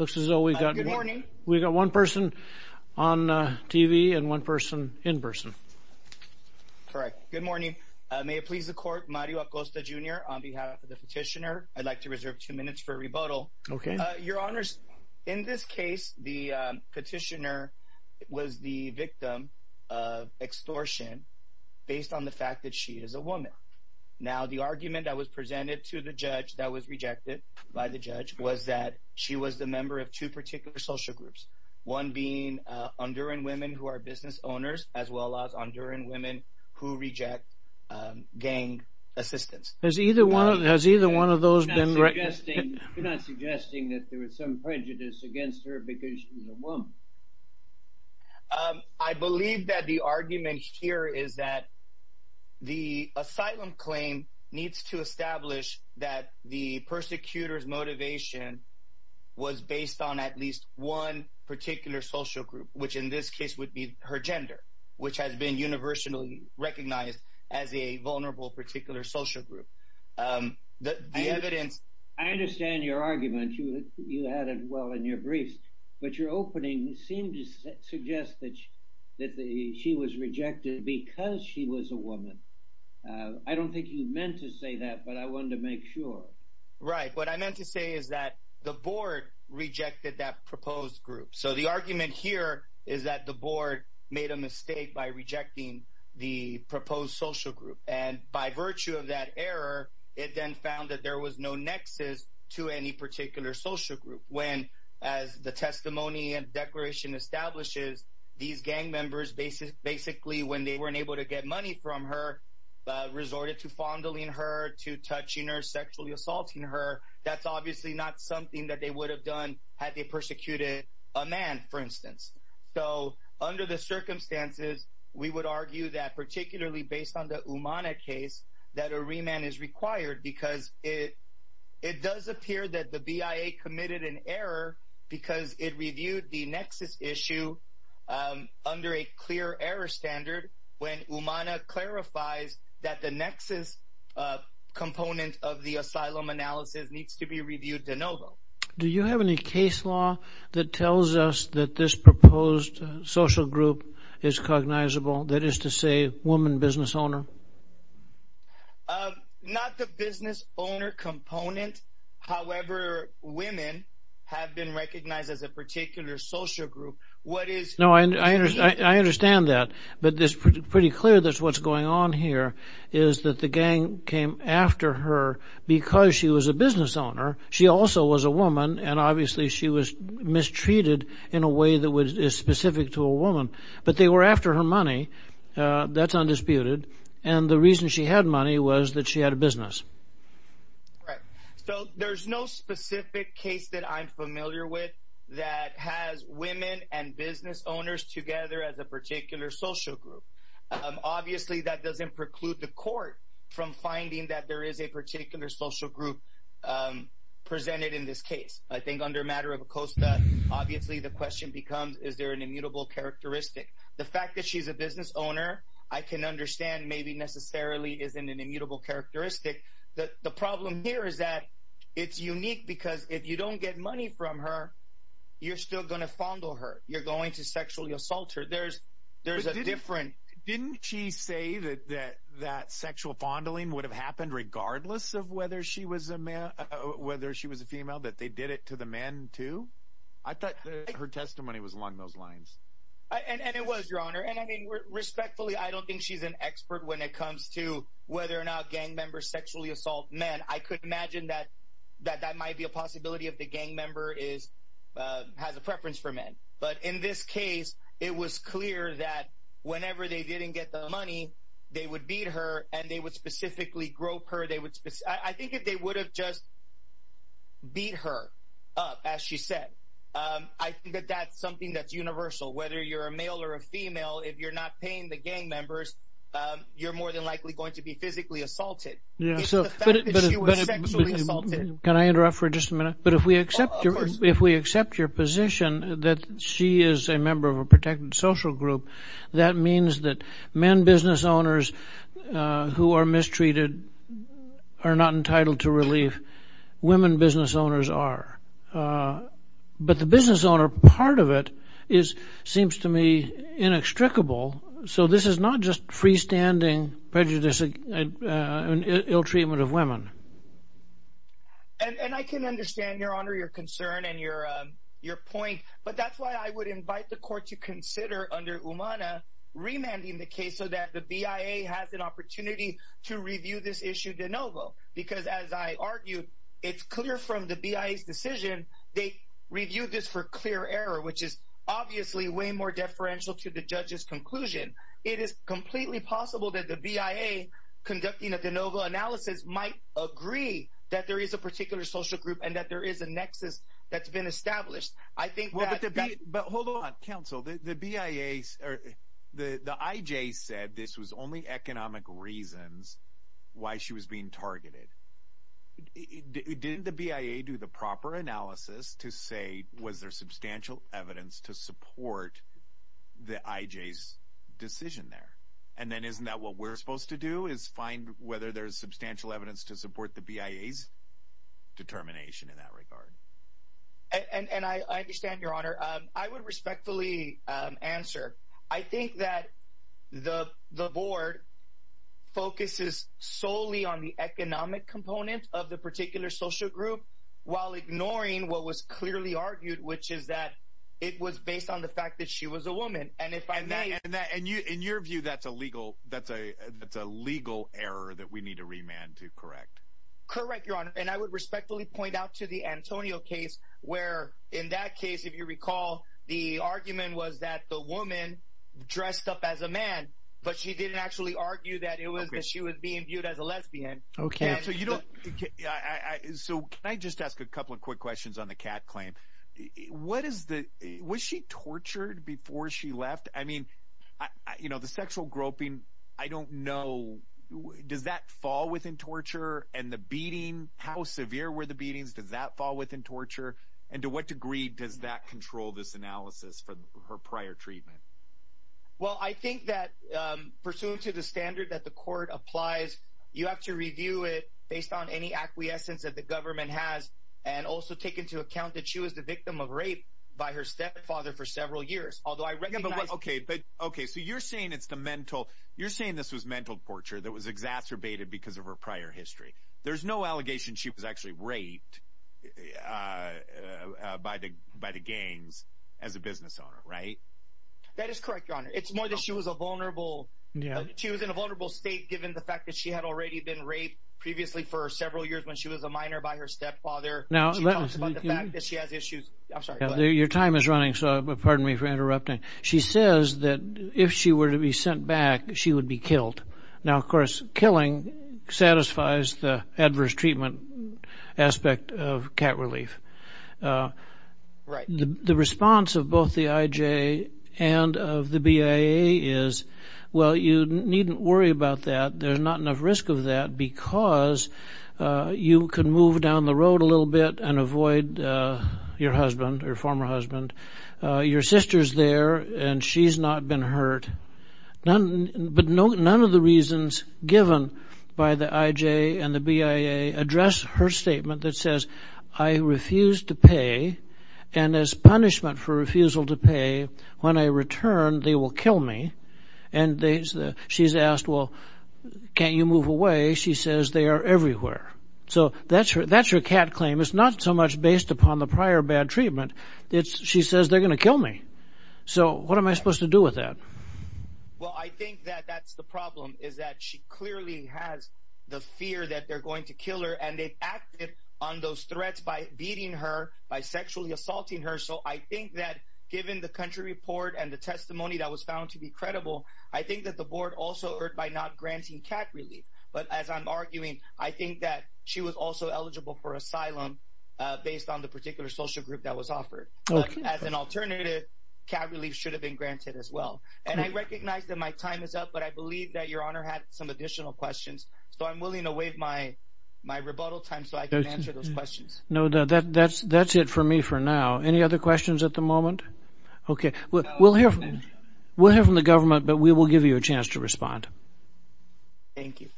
looks as though we've got one person on TV and one person in person correct good morning may it please the court Mario Acosta jr. on behalf of the petitioner I'd like to reserve two minutes for a rebuttal okay your honors in this case the petitioner was the victim of extortion based on the fact that she is a woman now the argument that was presented to the judge that was she was the member of two particular social groups one being on during women who are business owners as well as on during women who reject gang assistance as either one has either one of those been right you're not suggesting that there was some prejudice against her because she's a woman I believe that the argument here is that the asylum claim needs to establish that the persecutors motivation was based on at least one particular social group which in this case would be her gender which has been universally recognized as a vulnerable particular social group the evidence I understand your argument you you had it well in your briefs but your opening seemed to suggest that that the she was rejected because she was a woman I don't think you meant to say that but I wanted to make sure right what I meant to say is that the board rejected that proposed group so the argument here is that the board made a mistake by rejecting the proposed social group and by virtue of that error it then found that there was no nexus to any particular social group when as the testimony and declaration establishes these gang members basis basically when they weren't able to get money from her resorted to fondling her to touching her sexually assaulting her that's obviously not something that they would have done had they persecuted a man for instance so under the circumstances we would argue that particularly based on the case that a remand is required because it it does appear that the BIA committed an error because it reviewed the nexus issue under a clear error standard when Umana clarifies that the nexus component of the asylum analysis needs to be reviewed de novo do you have any case law that tells us that this proposed social group is cognizable that is to say woman business owner not the business owner component however women have been I understand that but this pretty clear that's what's going on here is that the gang came after her because she was a business owner she also was a woman and obviously she was mistreated in a way that was specific to a woman but they were after her money that's undisputed and the reason she had money was that she had a business so there's no specific case that I'm familiar with that has women and business owners together as a particular social group obviously that doesn't preclude the court from finding that there is a particular social group presented in this case I think under matter of a Costa obviously the question becomes is there an immutable characteristic the fact that she's a business owner I can understand maybe necessarily isn't an immutable characteristic that the problem here is that it's unique because if you don't get money from her you're still gonna fondle her you're going to sexually assault her there's there's a different didn't she say that that that sexual fondling would have happened regardless of whether she was a man whether she was a female that they did it to the men too I thought her testimony was along those lines and it was your honor and I mean respectfully I don't think she's an expert when it comes to whether or not gang members sexually assault men I could imagine that that that might be a possibility of the gang member is has a preference for men but in this case it was clear that whenever they didn't get the money they would beat her and they would specifically grope her they would I think if they would have just beat her up as she said I think that that's something that's universal whether you're a male or a female if you're not paying the gang members you're more than likely going to be physically assaulted can I interrupt for just a minute but if we accept your if we accept your position that she is a member of a protected social group that means that men business owners who are mistreated are not entitled to relief women business owners are but the business owner part of it is seems to me inextricable so this is not just freestanding prejudicing an ill treatment of women and I can understand your honor your concern and your your point but that's why I would invite the court to consider under umana remanding the case so that the BIA has an opportunity to review this issue de novo because as I argued it's clear from the BIA's decision they reviewed this for clear error which is obviously way more deferential to the BIA conducting a de novo analysis might agree that there is a particular social group and that there is a nexus that's been established I think well but hold on counsel the BIA's or the the IJ said this was only economic reasons why she was being targeted didn't the BIA do the proper analysis to say was there substantial evidence to support the IJ's decision there and then isn't that what we're supposed to do is find whether there's substantial evidence to support the BIA's determination in that regard and and I understand your honor I would respectfully answer I think that the the board focuses solely on the economic component of the particular social group while ignoring what was clearly argued which is that it was based on the fact that she was a woman and if I may and and you in your view that's a legal that's a that's a legal error that we need to remand to correct correct your honor and I would respectfully point out to the Antonio case where in that case if you recall the argument was that the woman dressed up as a man but she didn't actually argue that it was that she was being viewed as a lesbian okay so you don't so can I just ask a couple of quick questions on the cat claim what is the was she tortured before she left I mean I you know the sexual groping I don't know does that fall within torture and the beating how severe were the beatings does that fall within torture and to what degree does that control this analysis for her prior treatment well I think that pursuant to the standard that the court applies you have to review it based on any acquiescence that the government has and also take into account that she was the victim of rape by her stepfather for several years okay but okay so you're saying it's the mental you're saying this was mental torture that was exacerbated because of her prior history there's no allegation she was actually raped by the by the gangs as a business owner right that is correct your honor it's more that she was a vulnerable yeah she was in a vulnerable state given the fact that she had already been raped previously for several years when she was a minor by her stepfather now she has issues your time is running so pardon me for interrupting she says that if she were to be sent back she would be killed now of course killing satisfies the adverse treatment aspect of cat relief right the response of both the IJ and of the BIA is well you needn't worry about that there's not enough risk of that because you can move down the road a little bit and avoid your husband or former husband your sister's there and she's not been hurt none but no none of the reasons given by the IJ and the BIA address her statement that says I refused to pay and as punishment for refusal to pay when I return they will kill me and they said she's asked well can't you move away she says they are everywhere so that's her that's her cat claim it's not so much based upon the she says they're gonna kill me so what am I supposed to do with that well I think that that's the problem is that she clearly has the fear that they're going to kill her and they acted on those threats by beating her by sexually assaulting her so I think that given the country report and the testimony that was found to be credible I think that the board also heard by not granting cat relief but as I'm arguing I think that she was also eligible for asylum based on the particular social group that was offered as an alternative cat relief should have been granted as well and I recognize that my time is up but I believe that your honor had some additional questions so I'm willing to waive my my rebuttal time so I can answer those questions no that that's that's it for me for now any other questions at the moment okay well we'll hear we'll hear from the government but we will give you a chance to respond thank you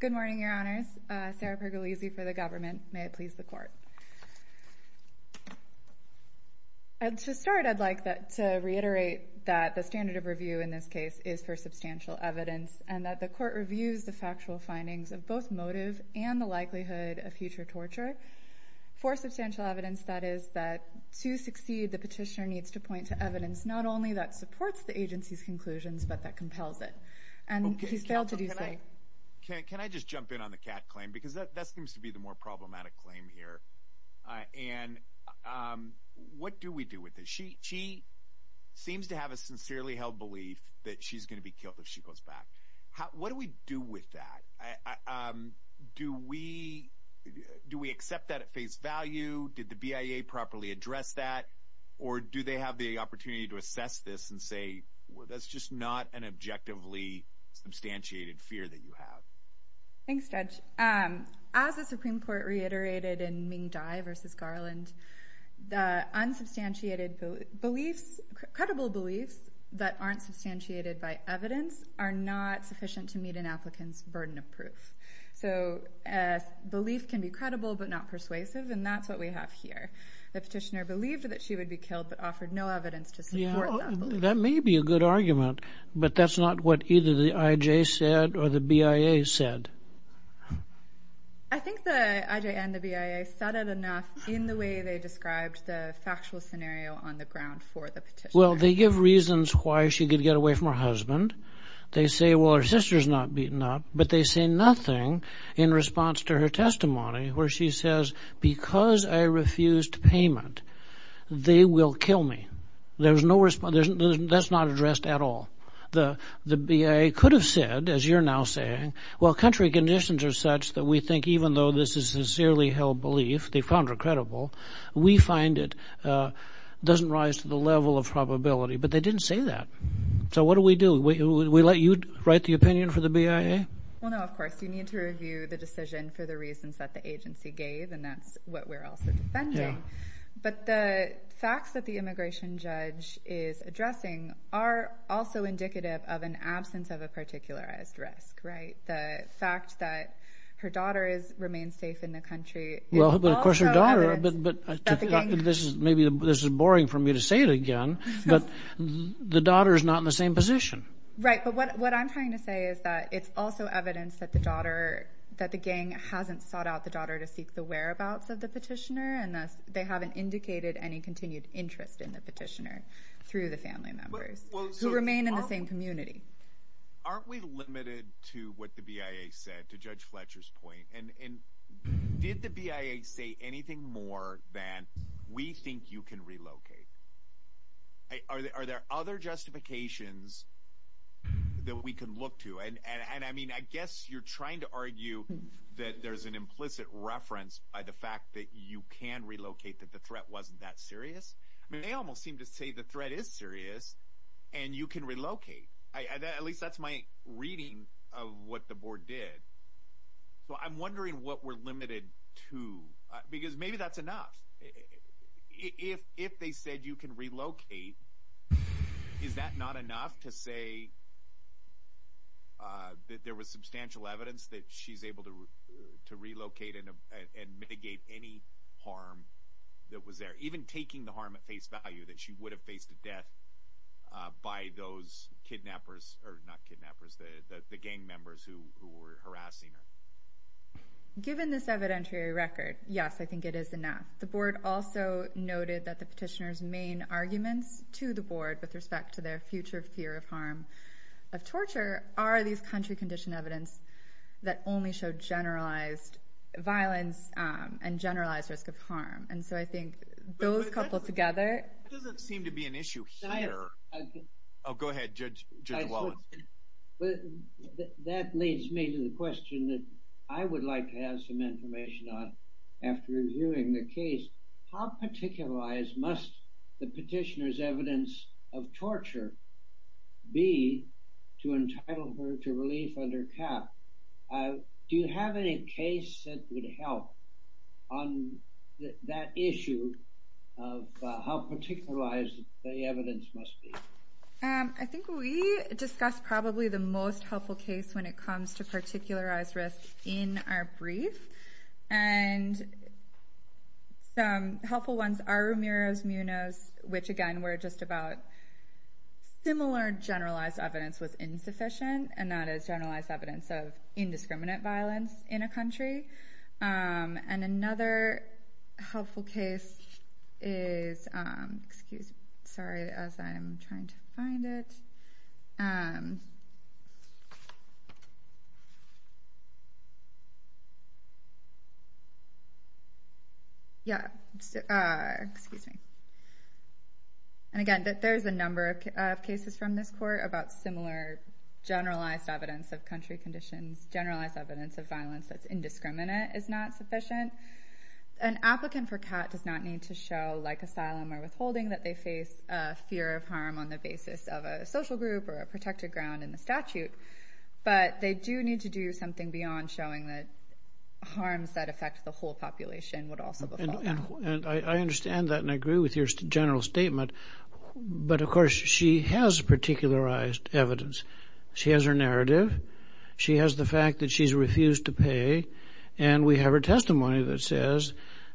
good morning your honors Sarah pergolese for the government may it please the court and to start I'd like that to reiterate that the standard of review in this case is for substantial evidence and that the court reviews the factual findings of both motive and the likelihood of future torture for substantial evidence that is that to succeed the petitioner needs to point to evidence not only that supports the agency's conclusions but that compels it can I just jump in on the cat claim because that seems to be the more problematic claim here and what do we do with this she she seems to have a sincerely held belief that she's gonna be killed if she goes back what do we do with that do we do we accept that at face value did the BIA properly address that or do they have the opportunity to assess this and say well that's just not an objectively substantiated fear that you have thanks judge as the Supreme Court reiterated in Ming Dai versus Garland the unsubstantiated beliefs credible beliefs that aren't substantiated by evidence are not sufficient to meet an applicant's burden of proof so as belief can be credible but not persuasive and that's what we have here the petitioner believed that she would be killed but offered no evidence to support that may be a good argument but that's not what either the IJ said or the BIA said well they give reasons why she could get away from her husband they say well her sister's not beaten up but they say nothing in response to her testimony where she says because I refused payment they will kill me there was no response that's not addressed at all the the BIA could have said as you're now saying well country conditions are such that we think even though this is sincerely held belief they found her credible we find it doesn't rise to the level of probability but they didn't say that so what do we do we let you write the opinion for the BIA well no of course you need to review the decision for the reasons that the agency gave and that's what we're also defending but the facts that the also indicative of an absence of a particular as the fact that her daughter is remain safe in the country well of course your daughter but this is maybe this is boring for me to say it again but the daughter is not in the same position right but what I'm trying to say is that it's also evidence that the daughter that the gang hasn't sought out the daughter to seek the whereabouts of the petitioner and thus they haven't indicated any continued interest in the remain in the same community aren't we limited to what the BIA said to judge Fletcher's point and did the BIA say anything more than we think you can relocate are there are there other justifications that we can look to and and I mean I guess you're trying to argue that there's an implicit reference by the fact that you can relocate that the threat wasn't that serious they almost seem to say the threat is serious and you can relocate at least that's my reading of what the board did so I'm wondering what we're limited to because maybe that's enough if if they said you can relocate is that not enough to say that there was substantial evidence that she's able to to relocate and mitigate any harm that was there even taking the harm at face value that she would have faced the death by those kidnappers or not kidnappers the gang members who were harassing her given this evidentiary record yes I think it is enough the board also noted that the petitioners main arguments to the board with respect to their future fear of harm of torture are these country condition evidence that only showed generalized violence and generalized risk of harm and so I think those coupled together doesn't seem to be an issue here I'll go ahead judge well but that leads me to the question that I would like to have some information on after reviewing the case how particularized must the petitioners evidence of torture be to entitle her to leave under cap do you have any case that would help on that issue of how particularized the evidence must be I think we discussed probably the most helpful case when it comes to particularized risk in our brief and helpful ones are Ramirez Munoz which again we're just about similar generalized evidence was insufficient and that is generalized evidence of indiscriminate violence in a country and another helpful case is excuse me sorry as I'm trying to find it yeah excuse me and again that there's a number of cases from this court about similar generalized evidence of country conditions generalized evidence of violence that's indiscriminate is not sufficient an applicant for cat does not need to show like asylum or withholding that they face fear of harm on the basis of a social group or a protected ground in the statute but they do need to do something beyond showing that harms that affect the whole population would also and I understand that and I agree with your general statement but of course she has particularized evidence she has her narrative she has the fact that she's refused to pay and we have her testimony that says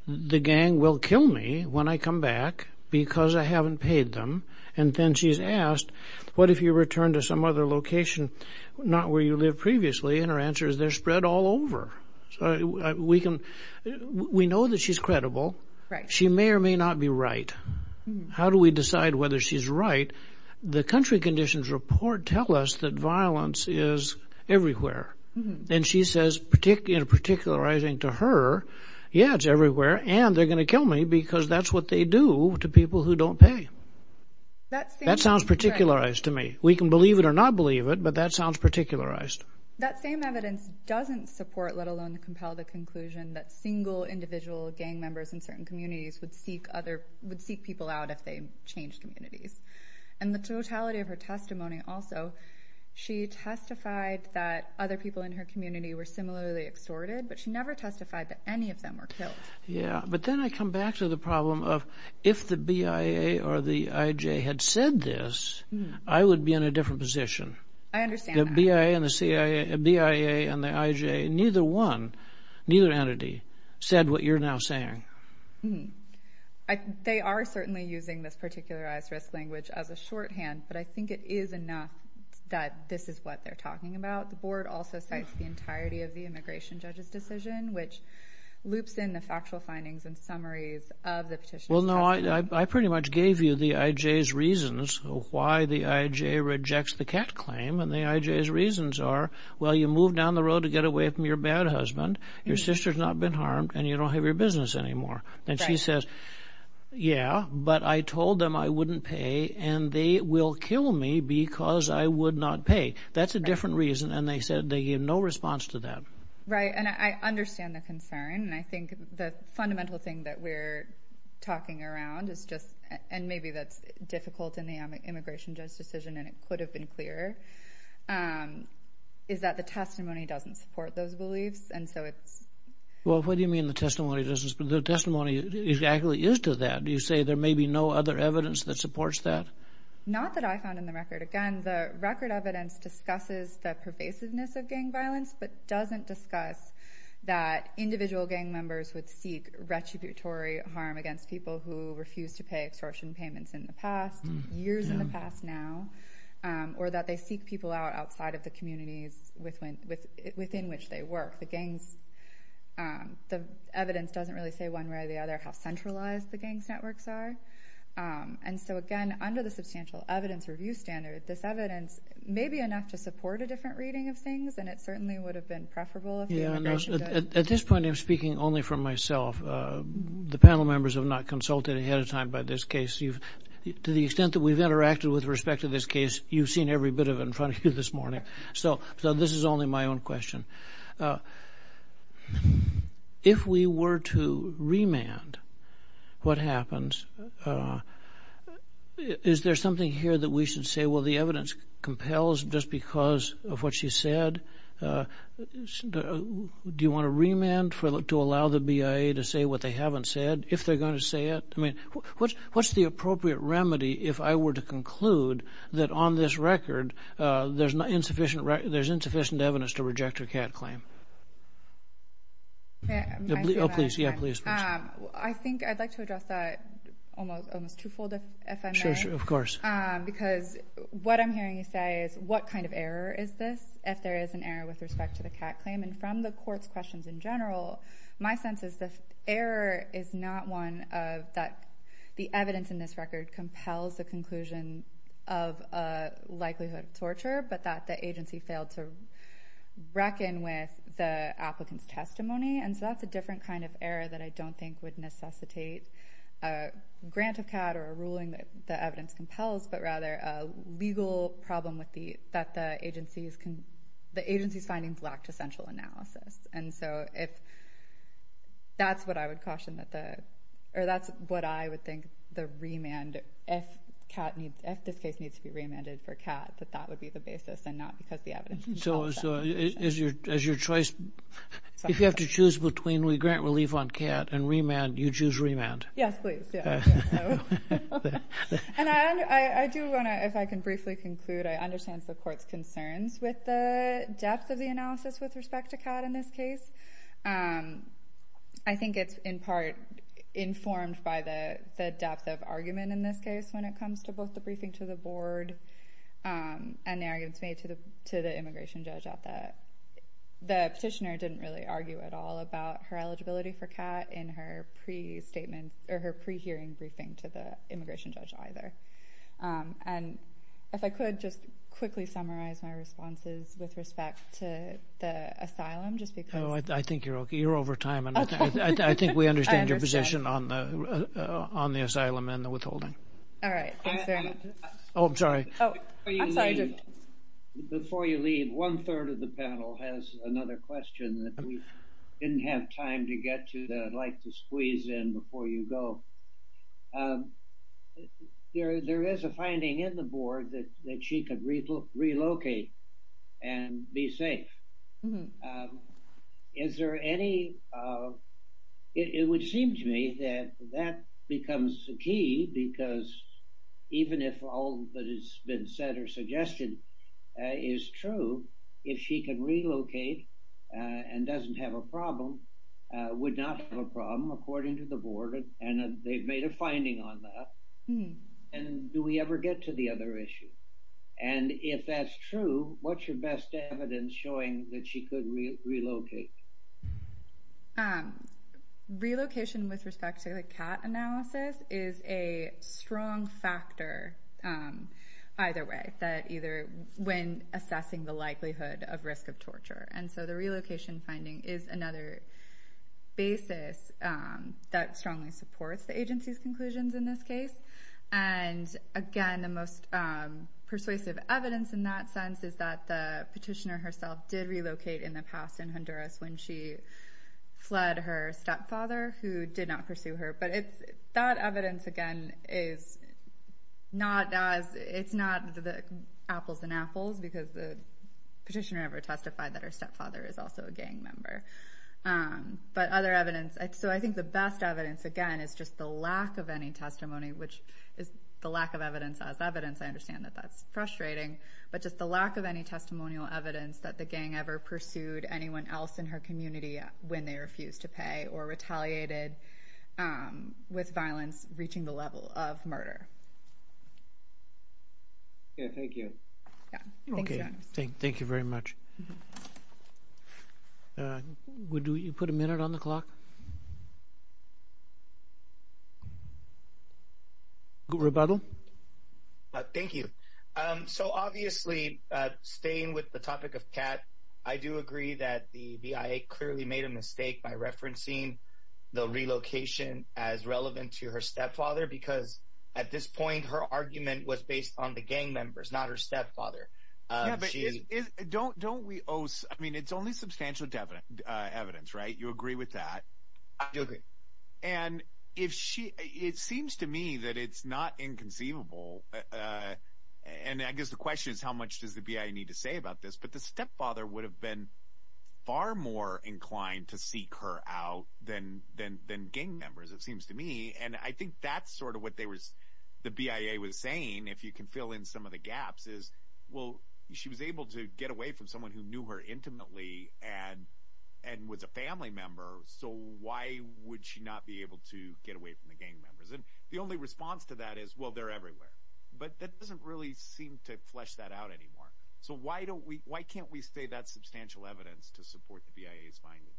the gang will kill me when I come back because I haven't paid them and then she's asked what if you return to some other location not where you live previously and her answer is they're spread all over we can we know that she's credible she may or may not be right how do we decide whether she's right the country conditions report tell us that violence is everywhere and she says particularly in particularizing to her everywhere and they're going to kill me because that's what they do to people who don't pay that sounds particularized to me we can believe it or not believe it but that sounds particularized doesn't support let alone compel the conclusion that single individual gang members in certain communities would seek other would seek people out if they changed and the totality of her testimony also she testified that other people in her yeah but then I come back to the problem of if the BIA or the IJ had said this I would be in a different position I understand the BIA and the CIA BIA and the IJ neither one neither entity said what you're now saying they are certainly using this particularized risk language as a shorthand but I think it is enough that this is what they're talking about the board also says the immigration judge's decision which loops in the factual findings and summaries of the petition well no I pretty much gave you the IJ's reasons why the IJ rejects the cat claim and the IJ's reasons are well you move down the road to get away from your bad husband your sister's not been harmed and you don't have your business anymore and she says yeah but I told them I wouldn't pay and they will kill me because I would not pay that's a different reason and they said they gave no response to that right and I understand the concern and I think the fundamental thing that we're talking around is just and maybe that's difficult in the immigration judge's decision and it could have been clearer is that the testimony doesn't support those beliefs and so it's well what do you mean the testimony doesn't the testimony exactly is to that do you say there may be no other evidence that supports that not that I found in the but doesn't discuss that individual gang members would seek retributory harm against people who refuse to pay extortion payments in the past years in the past now or that they seek people out outside of the communities with when with within which they work the gangs the evidence doesn't really say one way or the other how centralized the gangs networks are and so again under the substantial evidence review standard this evidence may be enough to support a and it certainly would have been preferable yeah at this point I'm speaking only for myself the panel members have not consulted ahead of time by this case you've to the extent that we've interacted with respect to this case you've seen every bit of in front of you this morning so so this is only my own question if we were to remand what happens is there something here that we should say well the evidence compels just because of what she said do you want to remand for look to allow the BIA to say what they haven't said if they're going to say it I mean what's what's the appropriate remedy if I were to conclude that on this record there's not insufficient right there's insufficient evidence to reject her cat claim please yeah please I think I'd like to address that almost almost twofold if I show you of course because what I'm hearing you say is what kind of error is this if there is an error with respect to the cat claim and from the courts questions in general my sense is the error is not one of that the evidence in this record compels the conclusion of a likelihood of torture but that the applicants testimony and so that's a different kind of error that I don't think would necessitate a grant of cat or a ruling that the evidence compels but rather a legal problem with the that the agency's can the agency's findings lack to central analysis and so if that's what I would caution that the or that's what I would think the remand if cat needs if this case needs to be remanded for cat that that would be the basis and not because the evidence so as your choice if you have to choose between we grant relief on cat and remand you choose remand and I do if I can briefly conclude I understand the court's concerns with the depth of the analysis with respect to cat in this case I think it's in part informed by the depth of argument in this case when it comes to both the briefing to the board and the arguments made to the to the petitioner didn't really argue at all about her eligibility for cat in her pre-statement or her pre-hearing briefing to the immigration judge either and if I could just quickly summarize my responses with respect to the asylum just because I think you're okay you're over time and I think we understand your position on the on the asylum and the withholding all right oh I'm sorry before you leave one-third of the panel has another question that we didn't have time to get to that I'd like to squeeze in before you go there there is a finding in the board that that she could read look relocate and be safe is there any it would seem to me that that becomes the key because even if all that been said or suggested is true if she can relocate and doesn't have a problem would not have a problem according to the board and they've made a finding on that and do we ever get to the other issue and if that's true what's your best evidence showing that she could relocate relocation with respect to the analysis is a strong factor either way that either when assessing the likelihood of risk of torture and so the relocation finding is another basis that strongly supports the agency's conclusions in this case and again the most persuasive evidence in that sense is that the petitioner herself did relocate in the fled her stepfather who did not pursue her but it's that evidence again is not as it's not the apples and apples because the petitioner ever testified that her stepfather is also a gang member but other evidence so I think the best evidence again is just the lack of any testimony which is the lack of evidence as evidence I understand that that's frustrating but just the lack of any testimonial evidence that the gang ever pursued anyone else in her community when they refused to pay or retaliated with violence reaching the level of murder thank you thank you very much would you put a minute on the clock rebuttal thank you so obviously staying with the topic of cat I do agree that the BIA clearly made a mistake by referencing the relocation as relevant to her stepfather because at this point her argument was based on the gang members not her stepfather don't don't we oh I mean it's only substantial evidence right you agree with that and if she it seems to me that it's not inconceivable and I guess the question is how much does the BIA need to say about this but the stepfather would have been far more inclined to seek her out then then then gang members it seems to me and I think that's sort of what they was the BIA was saying if you can fill in some of the gaps is well she was able to get away from someone who knew her intimately and and was a family member so why would she not be able to get away from the gang members and the only response to that is well they're everywhere but that doesn't really seem to flesh that out anymore so why don't we why can't we stay that substantial evidence to support the BIA's finding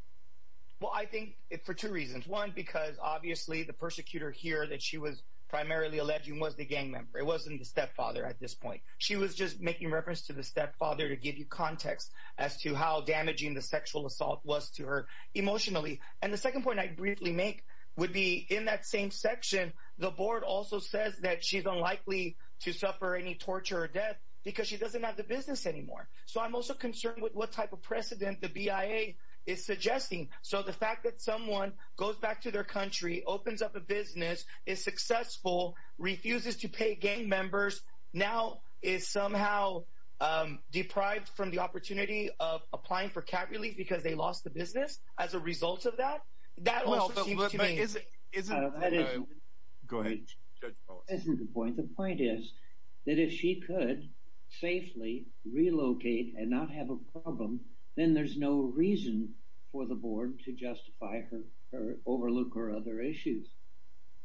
well I think it for two reasons one because obviously the persecutor here that she was primarily alleging was the gang member it wasn't the stepfather at this point she was just making reference to the stepfather to give you context as to how damaging the sexual assault was to her emotionally and the second point I briefly make would be in that same section the board also says that she's unlikely to suffer any torture or death because she doesn't have the business anymore so I'm also concerned with what type of precedent the BIA is suggesting so the fact that someone goes back to their country opens up a business is successful refuses to pay gang members now is somehow deprived from the opportunity of applying for cat relief because they lost the business as a result of that the point is that if she could safely relocate and not have a problem then there's no reason for the board to justify her overlook her other issues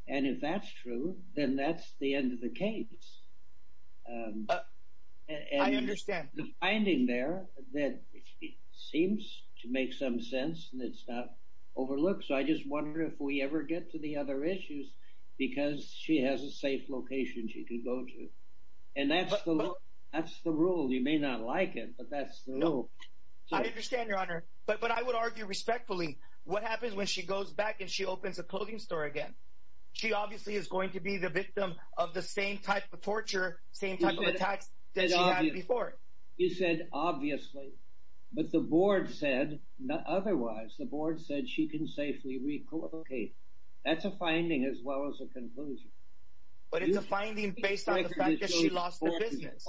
and if that's true then that's the end of the case I understand the finding there that seems to make some sense and it's not overlooked so I just wonder if we ever get to the other issues because she has a safe location she could go to and that's that's the rule you may not like it but that's no I understand your honor but but I would argue respectfully what happens when she goes back and she opens a clothing store again she obviously is going to be the victim of the same type of torture same type of attacks before you said obviously but the board said not otherwise the board said she can safely recall okay that's a finding as well as a conclusion but it's a finding based on the fact that she lost the business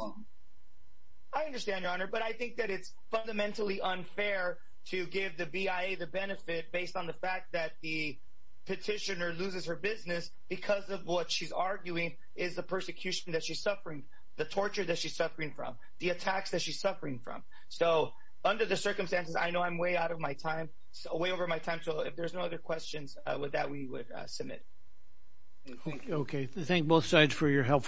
I understand your honor but I think that it's fundamentally unfair to give the BIA the benefit based on the fact that the petitioner loses her business because of what she's arguing is the persecution that she's suffering the torture that she's suffering from the attacks that she's suffering from so under the circumstances I know I'm way out of my time so way over my time so if there's no other questions with that we would submit okay thank both sides for your